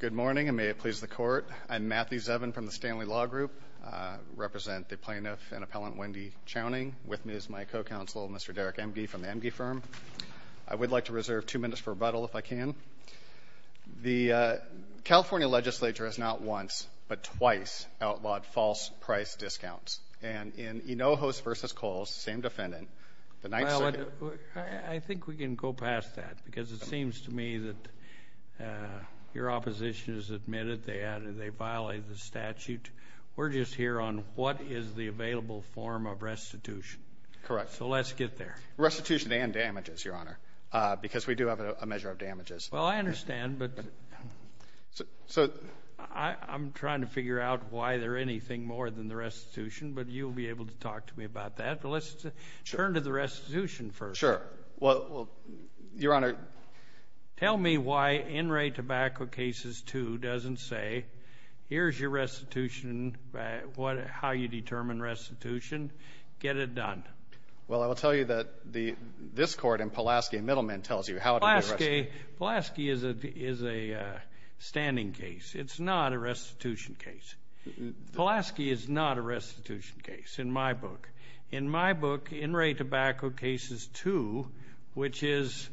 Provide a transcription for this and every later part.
Good morning, and may it please the Court. I'm Matthew Zevin from the Stanley Law Group. I represent the plaintiff and appellant Wendy Chowning. With me is my co-counsel, Mr. Derek Emge from the Emge Firm. I would like to reserve two minutes for rebuttal, if I can. The California legislature has not once, but twice, outlawed false price discounts. And in Hinojos v. Kohl's, same defendant, the 9th Circuit— Your opposition has admitted they violated the statute. We're just here on what is the available form of restitution. Correct. So let's get there. Restitution and damages, Your Honor, because we do have a measure of damages. Well, I understand, but I'm trying to figure out why there's anything more than the restitution, but you'll be able to talk to me about that. But let's turn to the restitution first. Sure. Well, Your Honor— Tell me why In Re Tobacco Cases 2 doesn't say, here's your restitution, how you determine restitution, get it done. Well, I will tell you that this court in Pulaski and Middleman tells you how to get restitution. Pulaski is a standing case. It's not a restitution case. Pulaski is not a restitution case in my book. In Re Tobacco Cases 2, which is,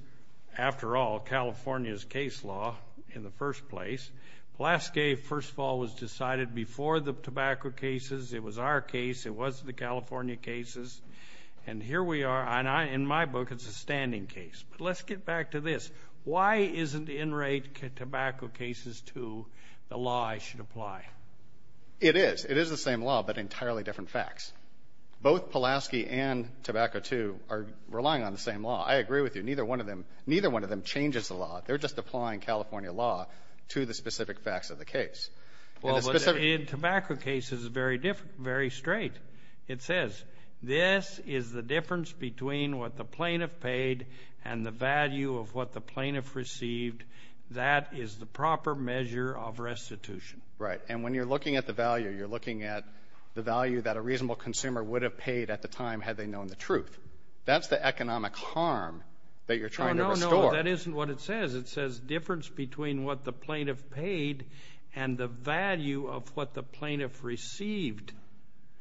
after all, California's case law in the first place, Pulaski, first of all, was decided before the tobacco cases. It was our case. It wasn't the California cases. And here we are, and in my book, it's a standing case. But let's get back to this. Why isn't In Re Tobacco Cases 2 the law I should apply? It is. It is the same law, but entirely different facts. Both Pulaski and Tobacco 2 are relying on the same law. I agree with you. Neither one of them changes the law. They're just applying California law to the specific facts of the case. Well, but In Tobacco Cases is very straight. It says, this is the difference between what the plaintiff paid and the value of what the plaintiff received. That is the proper measure of restitution. And when you're looking at the value, you're looking at the value that a reasonable consumer would have paid at the time had they known the truth. That's the economic harm that you're trying to restore. No, no, no. That isn't what it says. It says difference between what the plaintiff paid and the value of what the plaintiff received.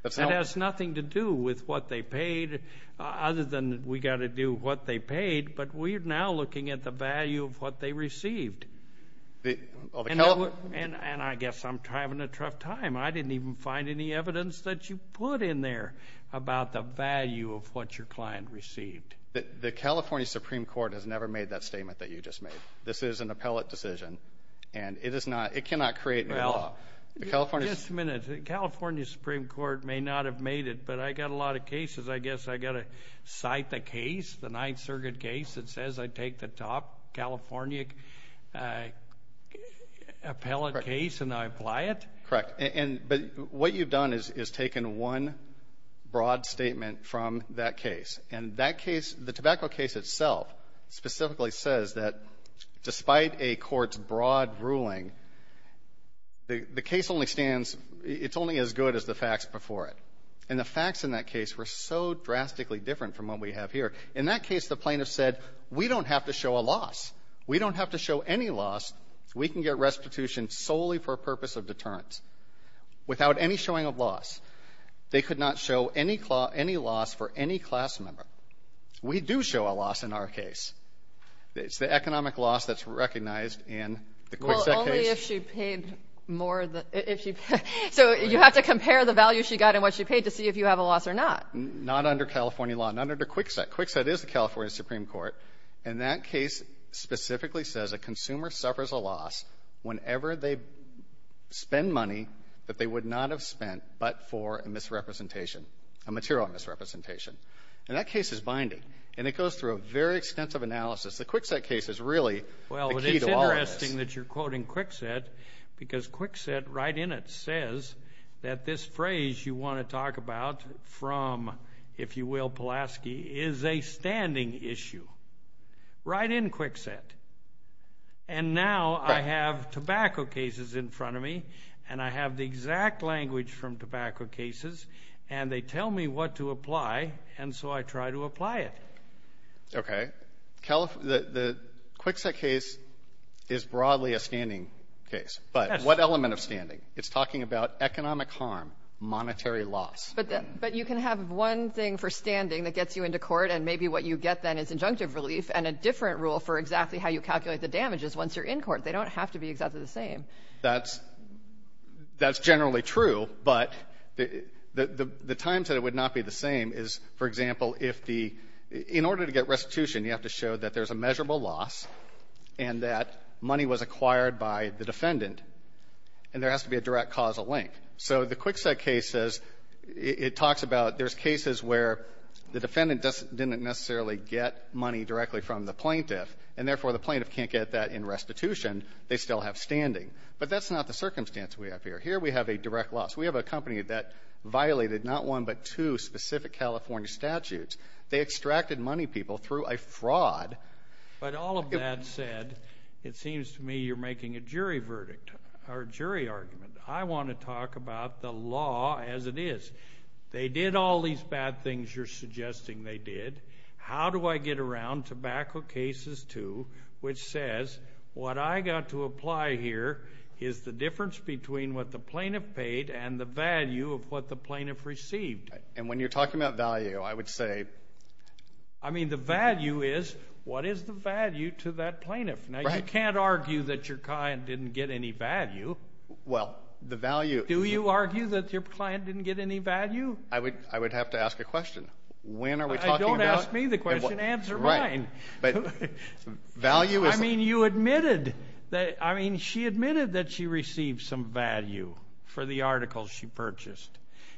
That has nothing to do with what they paid other than we've got to do what they paid. But we're now looking at the value of what they received. And I guess I'm having a tough time. I didn't even find any evidence that you put in there about the value of what your client received. The California Supreme Court has never made that statement that you just made. This is an appellate decision, and it cannot create new law. Just a minute. The California Supreme Court may not have made it, but I've got a lot of cases. I guess I've got to cite the case, the Ninth Circuit case that says I take the top California appellate case and I apply it. Correct. But what you've done is taken one broad statement from that case. And that case, the tobacco case itself, specifically says that despite a court's broad ruling, the case only stands, it's only as good as the facts before it. And the facts in that case were so drastically different from what we have here. In that case, the plaintiff said, we don't have to show a loss. We don't have to show any loss. We can get restitution solely for a purpose of deterrence. Without any showing of loss, they could not show any loss for any class member. We do show a loss in our case. It's the economic loss that's recognized in the Kwikset case. Well, only if she paid more. So you have to compare the value she got and what she paid to see if you have a loss or not. Not under California law. Not under Kwikset. Kwikset is the California Supreme Court. And that case specifically says a consumer suffers a loss whenever they spend money that they would not have spent but for a misrepresentation, a material misrepresentation. And that case is binding. And it goes through a very extensive analysis. The Kwikset case is really the key to all of this. Well, it's interesting that you're quoting Kwikset, because Kwikset right in it says that this phrase you want to talk about from, if you will, is a standing issue right in Kwikset. And now I have tobacco cases in front of me, and I have the exact language from tobacco cases, and they tell me what to apply, and so I try to apply it. Okay. The Kwikset case is broadly a standing case, but what element of standing? It's talking about economic harm, monetary loss. But you can have one thing for standing that gets you into court, and maybe what you get then is injunctive relief and a different rule for exactly how you calculate the damages once you're in court. They don't have to be exactly the same. That's generally true. But the times that it would not be the same is, for example, if the — in order to get restitution, you have to show that there's a measurable loss and that money was acquired by the defendant, and there has to be a direct causal link. So the Kwikset case says — it talks about there's cases where the defendant didn't necessarily get money directly from the plaintiff, and therefore the plaintiff can't get that in restitution. They still have standing. But that's not the circumstance we have here. Here we have a direct loss. We have a company that violated not one but two specific California statutes. They extracted money people through a fraud. But all of that said, it seems to me you're making a jury verdict or a jury argument. I want to talk about the law as it is. They did all these bad things you're suggesting they did. How do I get around Tobacco Cases 2, which says what I got to apply here is the difference between what the plaintiff paid and the value of what the plaintiff received? And when you're talking about value, I would say — I mean, the value is, what is the value to that plaintiff? Now, you can't argue that your client didn't get any value. Well, the value — Do you argue that your client didn't get any value? I would have to ask a question. When are we talking about — Don't ask me the question. Answer mine. Right. But value is — I mean, you admitted that — I mean, she admitted that she received some value for the articles she purchased.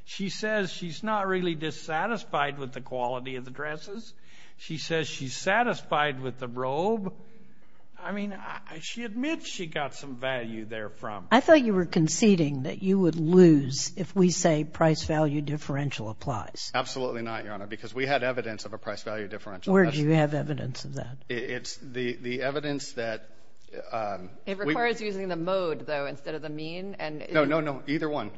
She says she's not really dissatisfied with the quality of the dresses. She says she's satisfied with the robe. I mean, she admits she got some value there from — I thought you were conceding that you would lose if we say price-value differential applies. Absolutely not, Your Honor, because we had evidence of a price-value differential. Where do you have evidence of that? It's the evidence that — It requires using the mode, though, instead of the mean. No, no, no. Either one.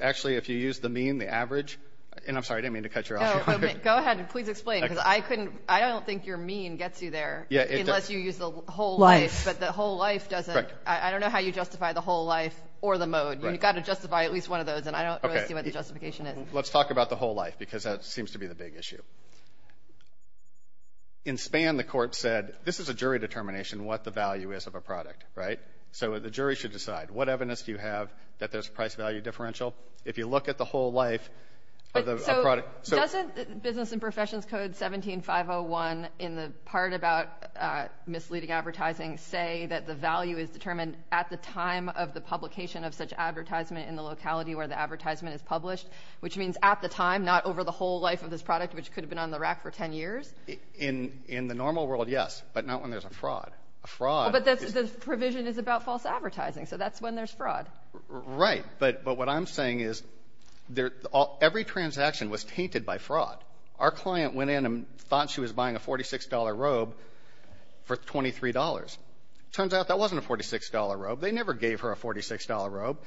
Actually, if you use the mean, the average — and I'm sorry, I didn't mean to cut you off. Go ahead and please explain because I couldn't — I don't think your mean gets you there. Unless you use the whole life. Life. But the whole life doesn't — I don't know how you justify the whole life or the mode. You've got to justify at least one of those, and I don't really see what the justification is. Let's talk about the whole life because that seems to be the big issue. In Spann, the court said this is a jury determination what the value is of a product, right? So the jury should decide. What evidence do you have that there's a price-value differential? If you look at the whole life of the product — Doesn't Business and Professions Code 17501 in the part about misleading advertising say that the value is determined at the time of the publication of such advertisement in the locality where the advertisement is published, which means at the time, not over the whole life of this product, which could have been on the rack for 10 years? In the normal world, yes, but not when there's a fraud. A fraud is — But the provision is about false advertising, so that's when there's fraud. Right, but what I'm saying is every transaction was tainted by fraud. Our client went in and thought she was buying a $46 robe for $23. Turns out that wasn't a $46 robe. They never gave her a $46 robe,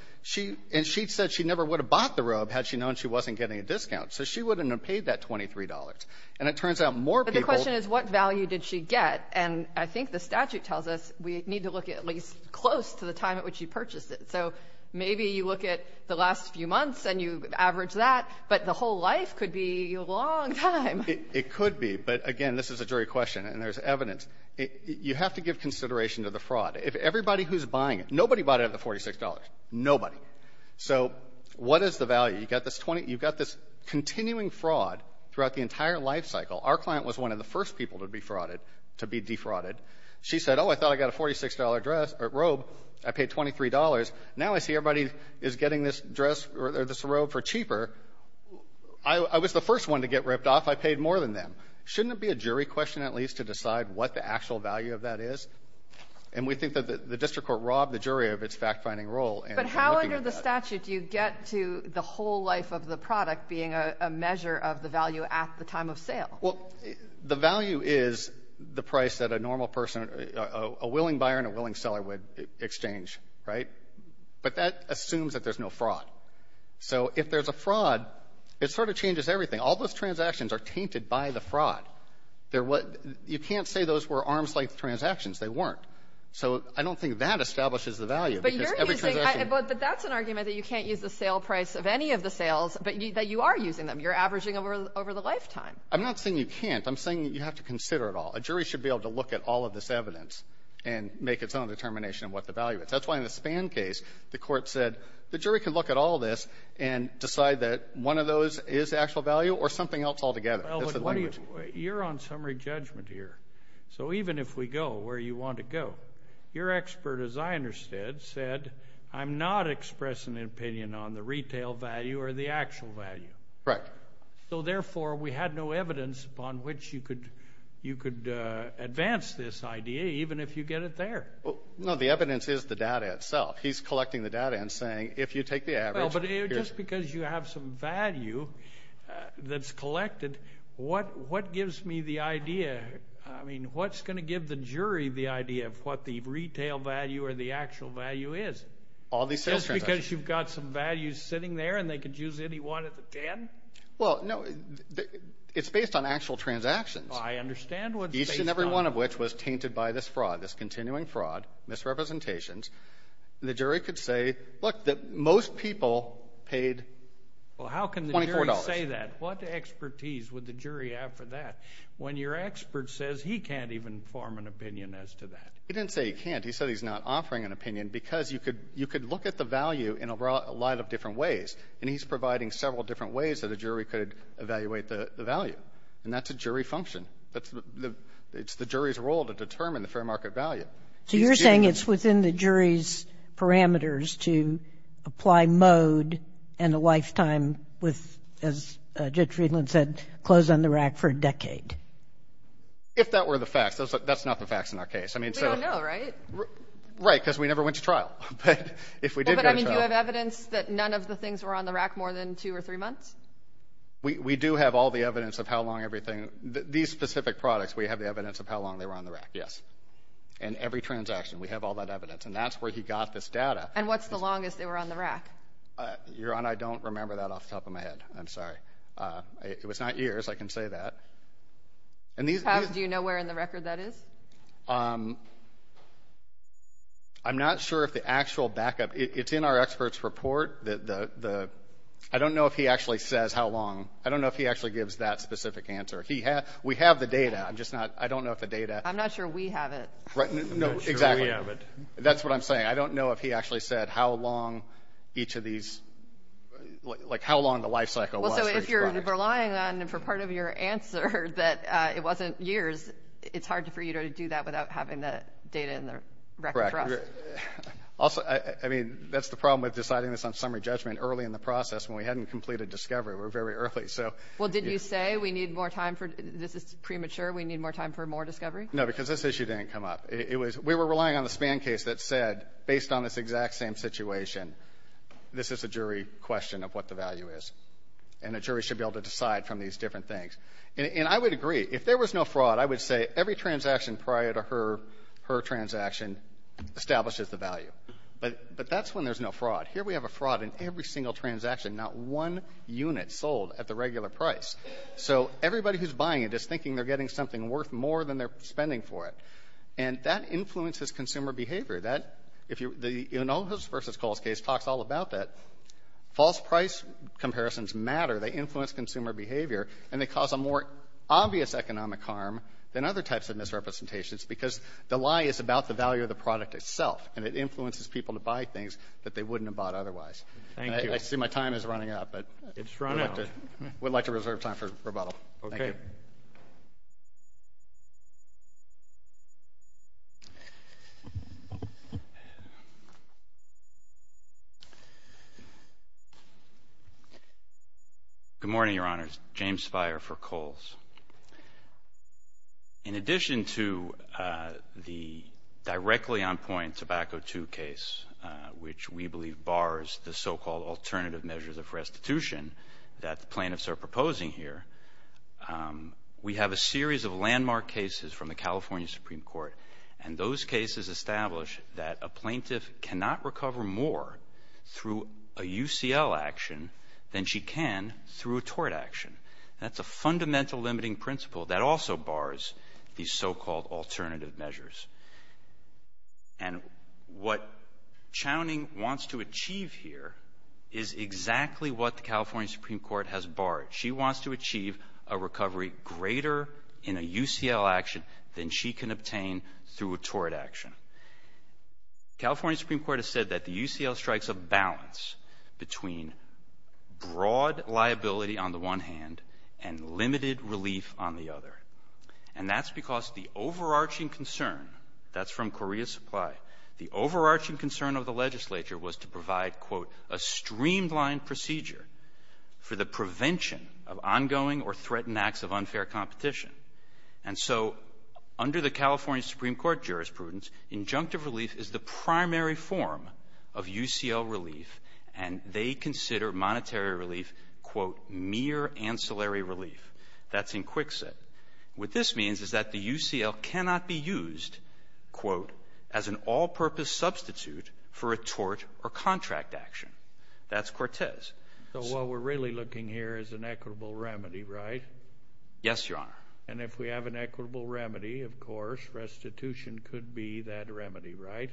and she said she never would have bought the robe had she known she wasn't getting a discount, so she wouldn't have paid that $23. And it turns out more people — But the question is what value did she get? And I think the statute tells us we need to look at least close to the time at which she purchased it. So maybe you look at the last few months and you average that, but the whole life could be a long time. It could be, but, again, this is a jury question, and there's evidence. You have to give consideration to the fraud. Everybody who's buying it, nobody bought it at the $46. Nobody. So what is the value? You've got this continuing fraud throughout the entire lifecycle. Our client was one of the first people to be defrauded. She said, oh, I thought I got a $46 robe. I paid $23. Now I see everybody is getting this dress or this robe for cheaper. I was the first one to get ripped off. I paid more than them. Shouldn't it be a jury question at least to decide what the actual value of that is? And we think that the district court robbed the jury of its fact-finding role in looking at that. But how under the statute do you get to the whole life of the product being a measure of the value at the time of sale? Well, the value is the price that a normal person, a willing buyer and a willing seller would exchange, right? But that assumes that there's no fraud. So if there's a fraud, it sort of changes everything. All those transactions are tainted by the fraud. They're what you can't say those were arms-length transactions. They weren't. So I don't think that establishes the value because every transaction But you're using, but that's an argument that you can't use the sale price of any of the sales, but that you are using them. You're averaging over the lifetime. I'm not saying you can't. I'm saying that you have to consider it all. A jury should be able to look at all of this evidence and make its own determination of what the value is. That's why in the Spann case, the court said the jury could look at all this and decide that one of those is the actual value or something else altogether. You're on summary judgment here. So even if we go where you want to go, your expert, as I understood, said, I'm not expressing an opinion on the retail value or the actual value. Right. So, therefore, we had no evidence upon which you could advance this idea, even if you get it there. No, the evidence is the data itself. He's collecting the data and saying, if you take the average. Well, but just because you have some value that's collected, what gives me the idea? I mean, what's going to give the jury the idea of what the retail value or the actual value is? All these sales transactions. Because you've got some values sitting there and they could use any one if they can? Well, no, it's based on actual transactions. I understand what's based on. Each and every one of which was tainted by this fraud, this continuing fraud, misrepresentations. The jury could say, look, that most people paid $24. Well, how can the jury say that? What expertise would the jury have for that when your expert says he can't even form an opinion as to that? He didn't say he can't. He said he's not offering an opinion because you could look at the value in a lot of different ways. And he's providing several different ways that a jury could evaluate the value. And that's a jury function. It's the jury's role to determine the fair market value. So you're saying it's within the jury's parameters to apply mode and a lifetime with, as Judge Friedland said, close on the rack for a decade? If that were the facts. That's not the facts in our case. We don't know, right? Right, because we never went to trial. But if we did go to trial. Do you have evidence that none of the things were on the rack more than two or three months? We do have all the evidence of how long everything, these specific products, we have the evidence of how long they were on the rack, yes. And every transaction, we have all that evidence. And that's where he got this data. And what's the longest they were on the rack? Your Honor, I don't remember that off the top of my head. I'm sorry. It was not years. I can say that. Do you know where in the record that is? I'm not sure if the actual backup. It's in our expert's report. I don't know if he actually says how long. I don't know if he actually gives that specific answer. We have the data. I don't know if the data. I'm not sure we have it. No, exactly. I'm not sure we have it. That's what I'm saying. I don't know if he actually said how long each of these, like how long the life cycle was for each product. If you're relying on for part of your answer that it wasn't years, it's hard for you to do that without having the data in the record for us. Correct. Also, I mean, that's the problem with deciding this on summary judgment early in the process when we hadn't completed discovery. We were very early. Well, did you say we need more time for, this is premature, we need more time for more discovery? No, because this issue didn't come up. We were relying on the Spann case that said, based on this exact same situation, this is a jury question of what the value is. And a jury should be able to decide from these different things. And I would agree. If there was no fraud, I would say every transaction prior to her, her transaction establishes the value. But that's when there's no fraud. Here we have a fraud in every single transaction, not one unit sold at the regular price. So everybody who's buying it is thinking they're getting something worth more than they're spending for it. And that influences consumer behavior. That, if you, the Enosis v. Kohl's case talks all about that. False price comparisons matter. They influence consumer behavior. And they cause a more obvious economic harm than other types of misrepresentations because the lie is about the value of the product itself. And it influences people to buy things that they wouldn't have bought otherwise. Thank you. I see my time is running out, but we'd like to reserve time for rebuttal. Okay. Thank you. James Spire. Good morning, Your Honors. James Spire for Kohl's. In addition to the directly on point Tobacco II case, which we believe bars the so-called alternative measures of restitution that the plaintiffs are proposing here, we have a series of landmark cases from the California Supreme Court. And those cases establish that a plaintiff cannot recover more through a UCL action than she can through a tort action. That's a fundamental limiting principle. That also bars these so-called alternative measures. And what Chowning wants to achieve here is exactly what the California Supreme Court has barred. She wants to achieve a recovery greater in a UCL action than she can obtain through a tort action. The California Supreme Court has said that the UCL strikes a balance between broad liability on the one hand and limited relief on the other. And that's because the overarching concern, that's from Korea Supply, the overarching concern of the legislature was to provide, quote, a streamlined procedure for the prevention of ongoing or threatened acts of unfair competition. And so under the California Supreme Court jurisprudence, injunctive relief is the primary form of UCL relief, and they consider monetary relief, quote, mere ancillary relief. That's in quicksand. What this means is that the UCL cannot be used, quote, as an all-purpose substitute for a tort or contract action. That's Cortez. So what we're really looking here is an equitable remedy, right? Yes, Your Honor. And if we have an equitable remedy, of course, restitution could be that remedy, right?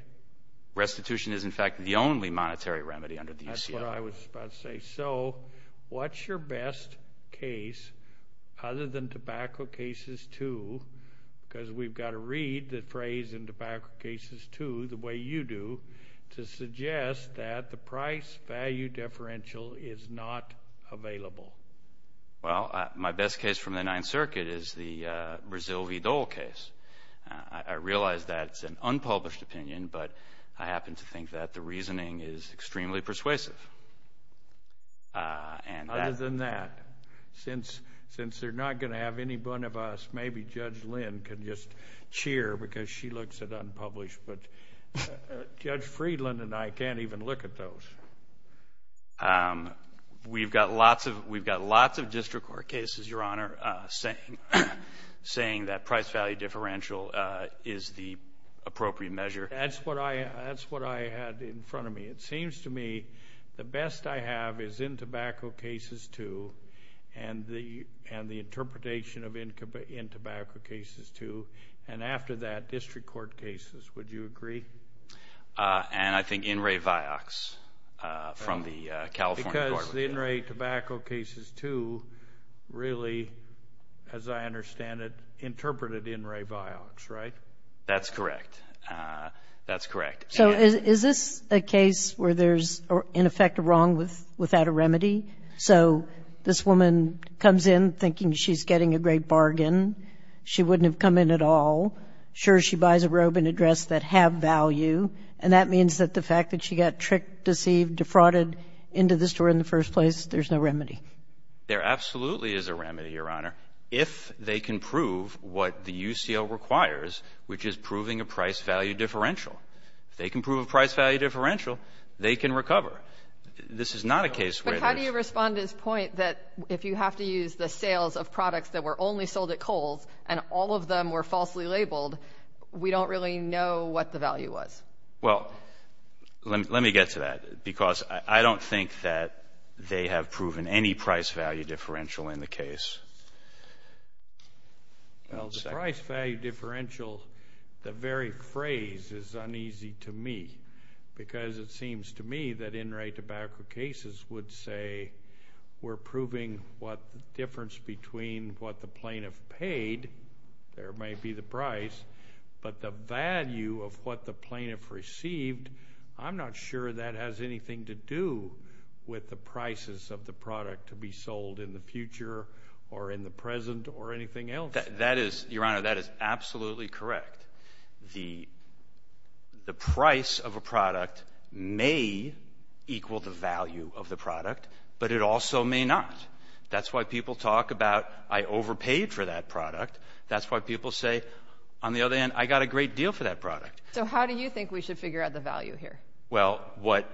Restitution is, in fact, the only monetary remedy under the UCL. That's what I was about to say. And so what's your best case, other than Tobacco Cases 2, because we've got to read the phrase in Tobacco Cases 2 the way you do, to suggest that the price-value differential is not available? Well, my best case from the Ninth Circuit is the Brazil v. Dole case. I realize that's an unpublished opinion, but I happen to think that the reasoning is extremely persuasive. Other than that, since they're not going to have any one of us, maybe Judge Lynn can just cheer because she looks at unpublished, but Judge Friedland and I can't even look at those. We've got lots of district court cases, Your Honor, saying that price-value differential is the appropriate measure. That's what I had in front of me. It seems to me the best I have is in Tobacco Cases 2 and the interpretation in Tobacco Cases 2, and after that, district court cases. Would you agree? And I think In Re Vioxx from the California court would be better. Because the In Re Tobacco Cases 2 really, as I understand it, interpreted In Re Vioxx, right? That's correct. That's correct. So is this a case where there's, in effect, a wrong without a remedy? So this woman comes in thinking she's getting a great bargain. She wouldn't have come in at all. Sure, she buys a robe and a dress that have value, and that means that the fact that she got tricked, deceived, defrauded into the store in the first place, there's no remedy. There absolutely is a remedy, Your Honor, if they can prove what the UCL requires, which is proving a price-value differential. If they can prove a price-value differential, they can recover. This is not a case where there's no remedy. But how do you respond to his point that if you have to use the sales of products that were only sold at Kohl's and all of them were falsely labeled, we don't really know what the value was? Well, let me get to that, because I don't think that they have proven any price-value differential in the case. Well, the price-value differential, the very phrase is uneasy to me, because it seems to me that in right-to-backer cases would say, we're proving what the difference between what the plaintiff paid, there may be the price, but the value of what the plaintiff received, I'm not sure that has anything to do with the prices of the product to be sold in the future or in the present or anything else. Your Honor, that is absolutely correct. The price of a product may equal the value of the product, but it also may not. That's why people talk about I overpaid for that product. That's why people say, on the other hand, I got a great deal for that product. So how do you think we should figure out the value here? Well, what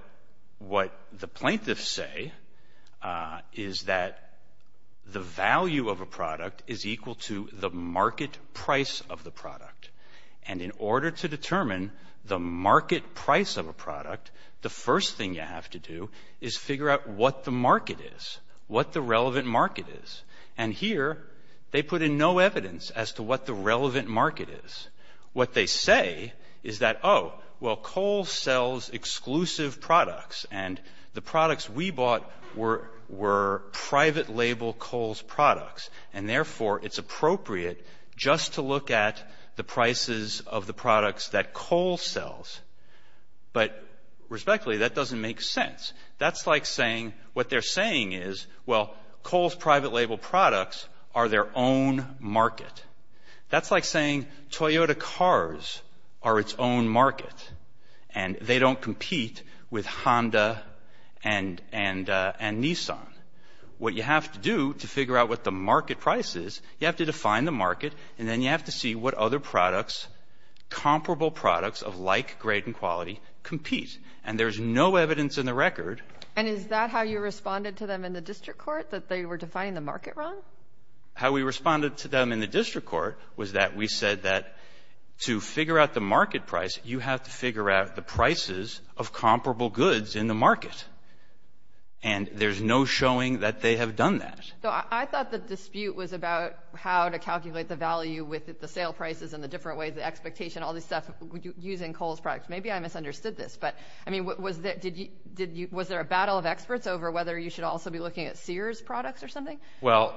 the plaintiffs say is that the value of a product is equal to the market price of the product. And in order to determine the market price of a product, the first thing you have to do is figure out what the market is, what the relevant market is. And here, they put in no evidence as to what the relevant market is. What they say is that, oh, well, Cole sells exclusive products, and the products we bought were private label Cole's products, and therefore it's appropriate just to look at the prices of the products that Cole sells. But respectfully, that doesn't make sense. That's like saying what they're saying is, well, Cole's private label products are their own market. That's like saying Toyota cars are its own market, and they don't compete with Honda and Nissan. What you have to do to figure out what the market price is, you have to define the market, and then you have to see what other products, comparable products of like grade and quality, compete. And there's no evidence in the record. And is that how you responded to them in the district court, that they were defining the market wrong? How we responded to them in the district court was that we said that to figure out the market price, you have to figure out the prices of comparable goods in the market. And there's no showing that they have done that. So I thought the dispute was about how to calculate the value with the sale prices and the different ways, the expectation, all this stuff, using Cole's products. Maybe I misunderstood this. But, I mean, was there a battle of experts over whether you should also be looking at Sears products or something? Well,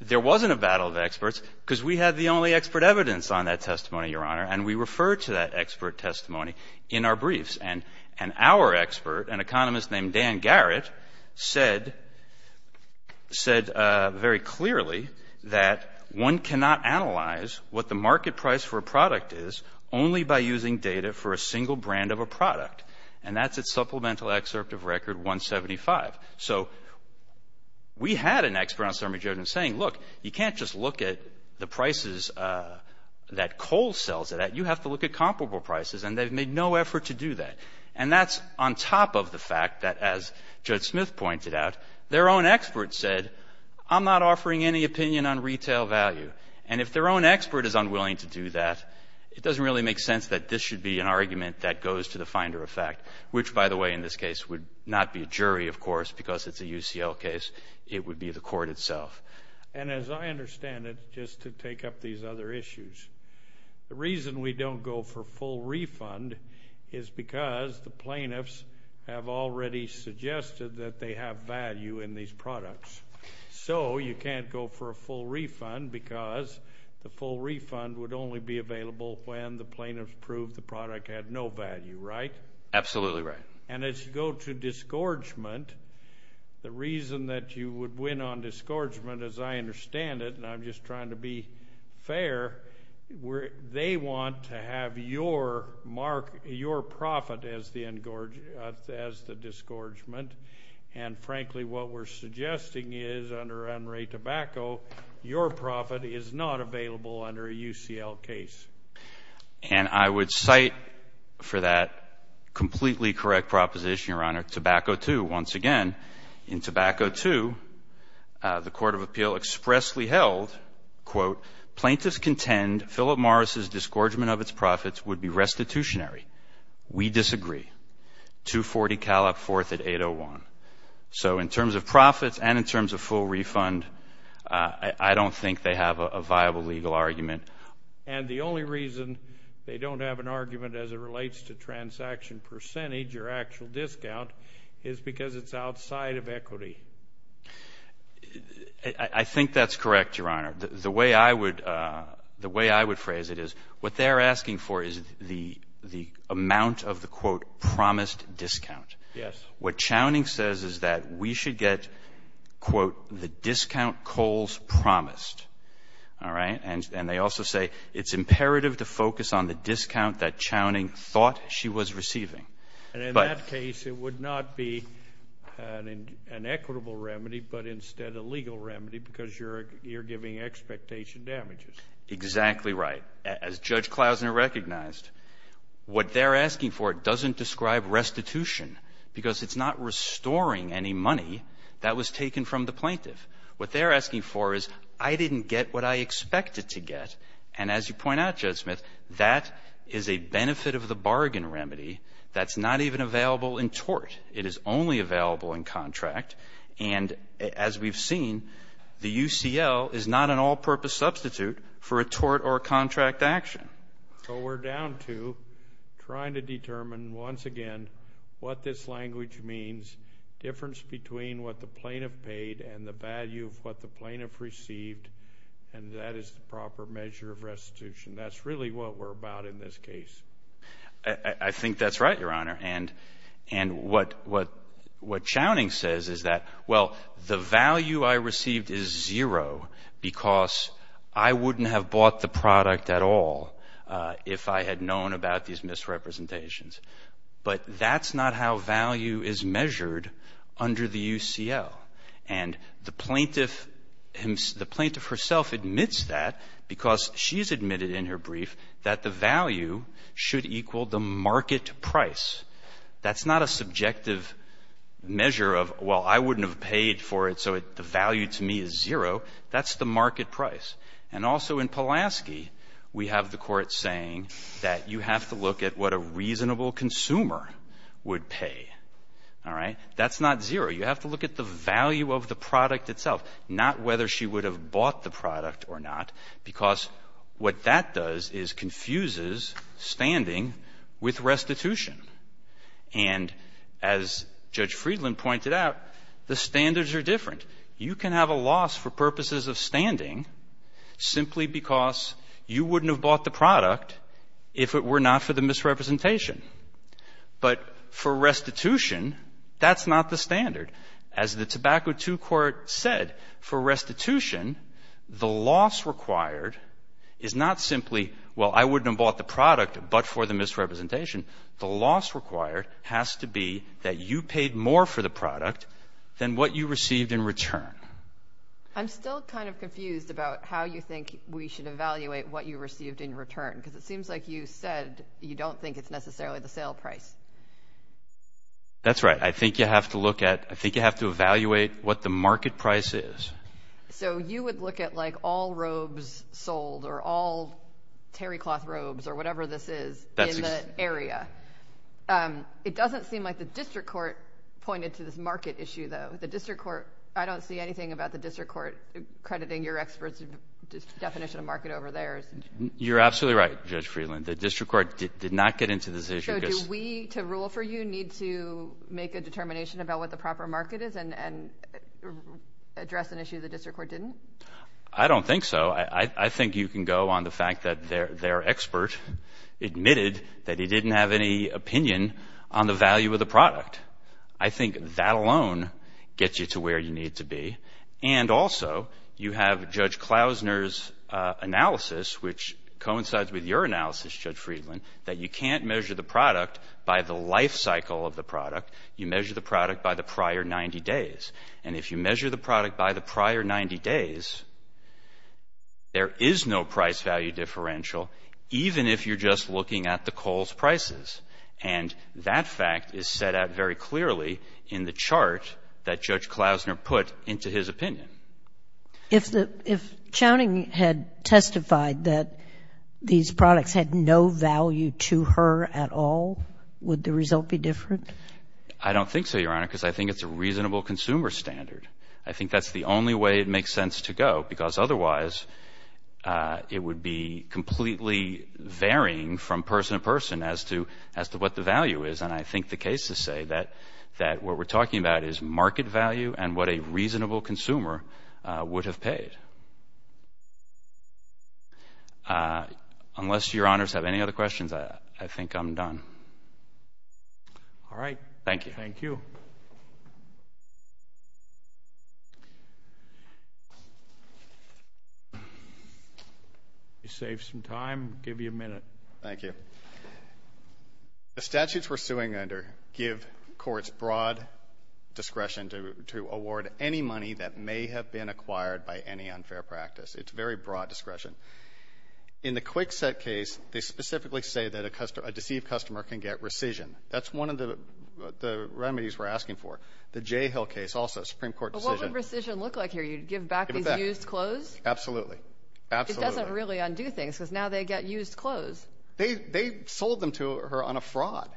there wasn't a battle of experts because we had the only expert evidence on that testimony, Your Honor. And we referred to that expert testimony in our briefs. And our expert, an economist named Dan Garrett, said very clearly that one cannot analyze what the market price for a product is only by using data for a single brand of a product. And that's at Supplemental Excerpt of Record 175. So we had an expert on Sermon Jordan saying, look, you can't just look at the prices that Cole sells it at. You have to look at comparable prices. And they've made no effort to do that. And that's on top of the fact that, as Judge Smith pointed out, their own expert said, I'm not offering any opinion on retail value. And if their own expert is unwilling to do that, it doesn't really make sense that this should be an argument that goes to the finder of fact, which, by the way, in this case would not be a jury, of course, because it's a UCL case. It would be the court itself. And as I understand it, just to take up these other issues, the reason we don't go for full refund is because the plaintiffs have already suggested that they have value in these products. So you can't go for a full refund because the full refund would only be available when the plaintiffs proved the product had no value, right? Absolutely right. And as you go to disgorgement, the reason that you would win on disgorgement, as I understand it, and I'm just trying to be fair, they want to have your profit as the disgorgement. And, frankly, what we're suggesting is under unrated tobacco, your profit is not available under a UCL case. And I would cite for that completely correct proposition, Your Honor, tobacco two. Once again, in tobacco two, the court of appeal expressly held, quote, plaintiffs contend Philip Morris's disgorgement of its profits would be restitutionary. We disagree. $240 callot forth at 801. So in terms of profits and in terms of full refund, I don't think they have a viable legal argument. And the only reason they don't have an argument as it relates to transaction percentage or actual discount is because it's outside of equity. I think that's correct, Your Honor. The way I would phrase it is what they're asking for is the amount of the, quote, promised discount. Yes. What Chowning says is that we should get, quote, the discount coals promised. All right? And they also say it's imperative to focus on the discount that Chowning thought she was receiving. And in that case, it would not be an equitable remedy, but instead a legal remedy because you're giving expectation damages. Exactly right. As Judge Klausner recognized, what they're asking for doesn't describe restitution because it's not restoring any money that was taken from the plaintiff. What they're asking for is I didn't get what I expected to get. And as you point out, Judge Smith, that is a benefit of the bargain remedy that's not even available in tort. It is only available in contract. And as we've seen, the UCL is not an all-purpose substitute for a tort or contract action. So we're down to trying to determine, once again, what this language means, difference between what the plaintiff paid and the value of what the plaintiff received, and that is the proper measure of restitution. That's really what we're about in this case. I think that's right, Your Honor. And what Chowning says is that, well, the value I received is zero because I wouldn't have bought the product at all if I had known about these misrepresentations. But that's not how value is measured under the UCL. And the plaintiff himself admits that because she's admitted in her brief that the value should equal the market price. That's not a subjective measure of, well, I wouldn't have paid for it, so the value to me is zero. That's the market price. And also in Pulaski, we have the Court saying that you have to look at what a reasonable consumer would pay. All right? That's not zero. You have to look at the value of the product itself, not whether she would have bought the product or not, because what that does is confuses standing with restitution. And as Judge Friedland pointed out, the standards are different. You can have a loss for purposes of standing simply because you wouldn't have bought the product if it were not for the misrepresentation. But for restitution, that's not the standard. As the Tobacco II Court said, for restitution, the loss required is not simply, well, I wouldn't have bought the product but for the misrepresentation. The loss required has to be that you paid more for the product than what you received in return. I'm still kind of confused about how you think we should evaluate what you received in return, because it seems like you said you don't think it's necessarily the sale price. That's right. I think you have to look at, I think you have to evaluate what the market price is. So you would look at, like, all robes sold or all terrycloth robes or whatever this is in the area. It doesn't seem like the District Court pointed to this market issue, though. The District Court, I don't see anything about the District Court crediting your experts definition of market over theirs. You're absolutely right, Judge Friedland. The District Court did not get into this issue. So do we, to rule for you, need to make a determination about what the proper market is and address an issue the District Court didn't? I don't think so. I think you can go on the fact that their expert admitted that he didn't have any opinion on the value of the product. I think that alone gets you to where you need to be. And also, you have Judge Klausner's analysis, which coincides with your analysis, Judge Friedland, that you can't measure the product by the life cycle of the product. You measure the product by the prior 90 days. And if you measure the product by the prior 90 days, there is no price value differential, even if you're just looking at the Kohl's prices. And that fact is set out very clearly in the chart that Judge Klausner put into his opinion. If the — if Chowning had testified that these products had no value to her at all, would the result be different? I don't think so, Your Honor, because I think it's a reasonable consumer standard. I think that's the only way it makes sense to go, because otherwise it would be completely varying from person to person as to what the value is. And I think the cases say that what we're talking about is market value and what a reasonable consumer would have paid. Unless Your Honors have any other questions, I think I'm done. All right. Thank you. Thank you. Let me save some time, give you a minute. Thank you. The statutes we're suing under give courts broad discretion to award any money that may have been acquired by any unfair practice. It's very broad discretion. In the Kwikset case, they specifically say that a deceived customer can get rescission. That's one of the remedies we're asking for. The J. Hill case also, a Supreme Court decision. But what would rescission look like here? You'd give back these used clothes? Absolutely. Absolutely. It doesn't really undo things, because now they get used clothes. They sold them to her on a fraud.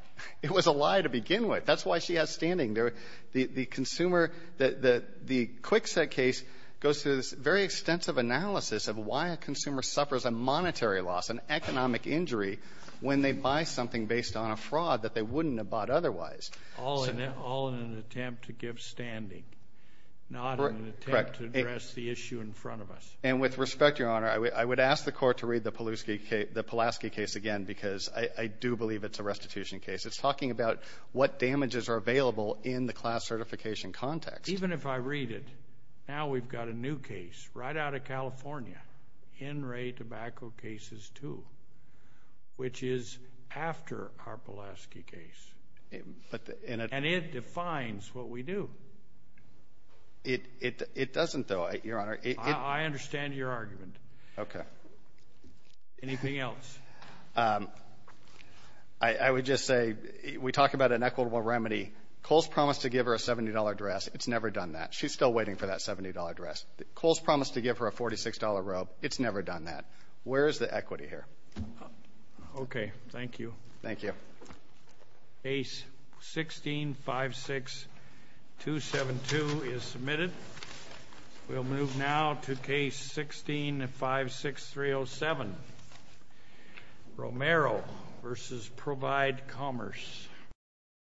It was a lie to begin with. That's why she has standing there. The consumer, the Kwikset case goes through this very extensive analysis of why a consumer suffers a monetary loss, an economic injury, when they buy something based on a fraud that they wouldn't have bought otherwise. All in an attempt to give standing. Correct. Not in an attempt to address the issue in front of us. And with respect, Your Honor, I would ask the court to read the Pulaski case again, because I do believe it's a restitution case. It's talking about what damages are available in the class certification context. Even if I read it, now we've got a new case right out of California, in Ray Tobacco Cases 2, which is after our Pulaski case. And it defines what we do. It doesn't, though, Your Honor. I understand your argument. Okay. Anything else? I would just say we talk about an equitable remedy. Coles promised to give her a $70 dress. It's never done that. She's still waiting for that $70 dress. Coles promised to give her a $46 robe. It's never done that. Where is the equity here? Okay. Thank you. Thank you. Case 16-56272 is submitted. We'll move now to case 16-56307, Romero v. Provide Commerce.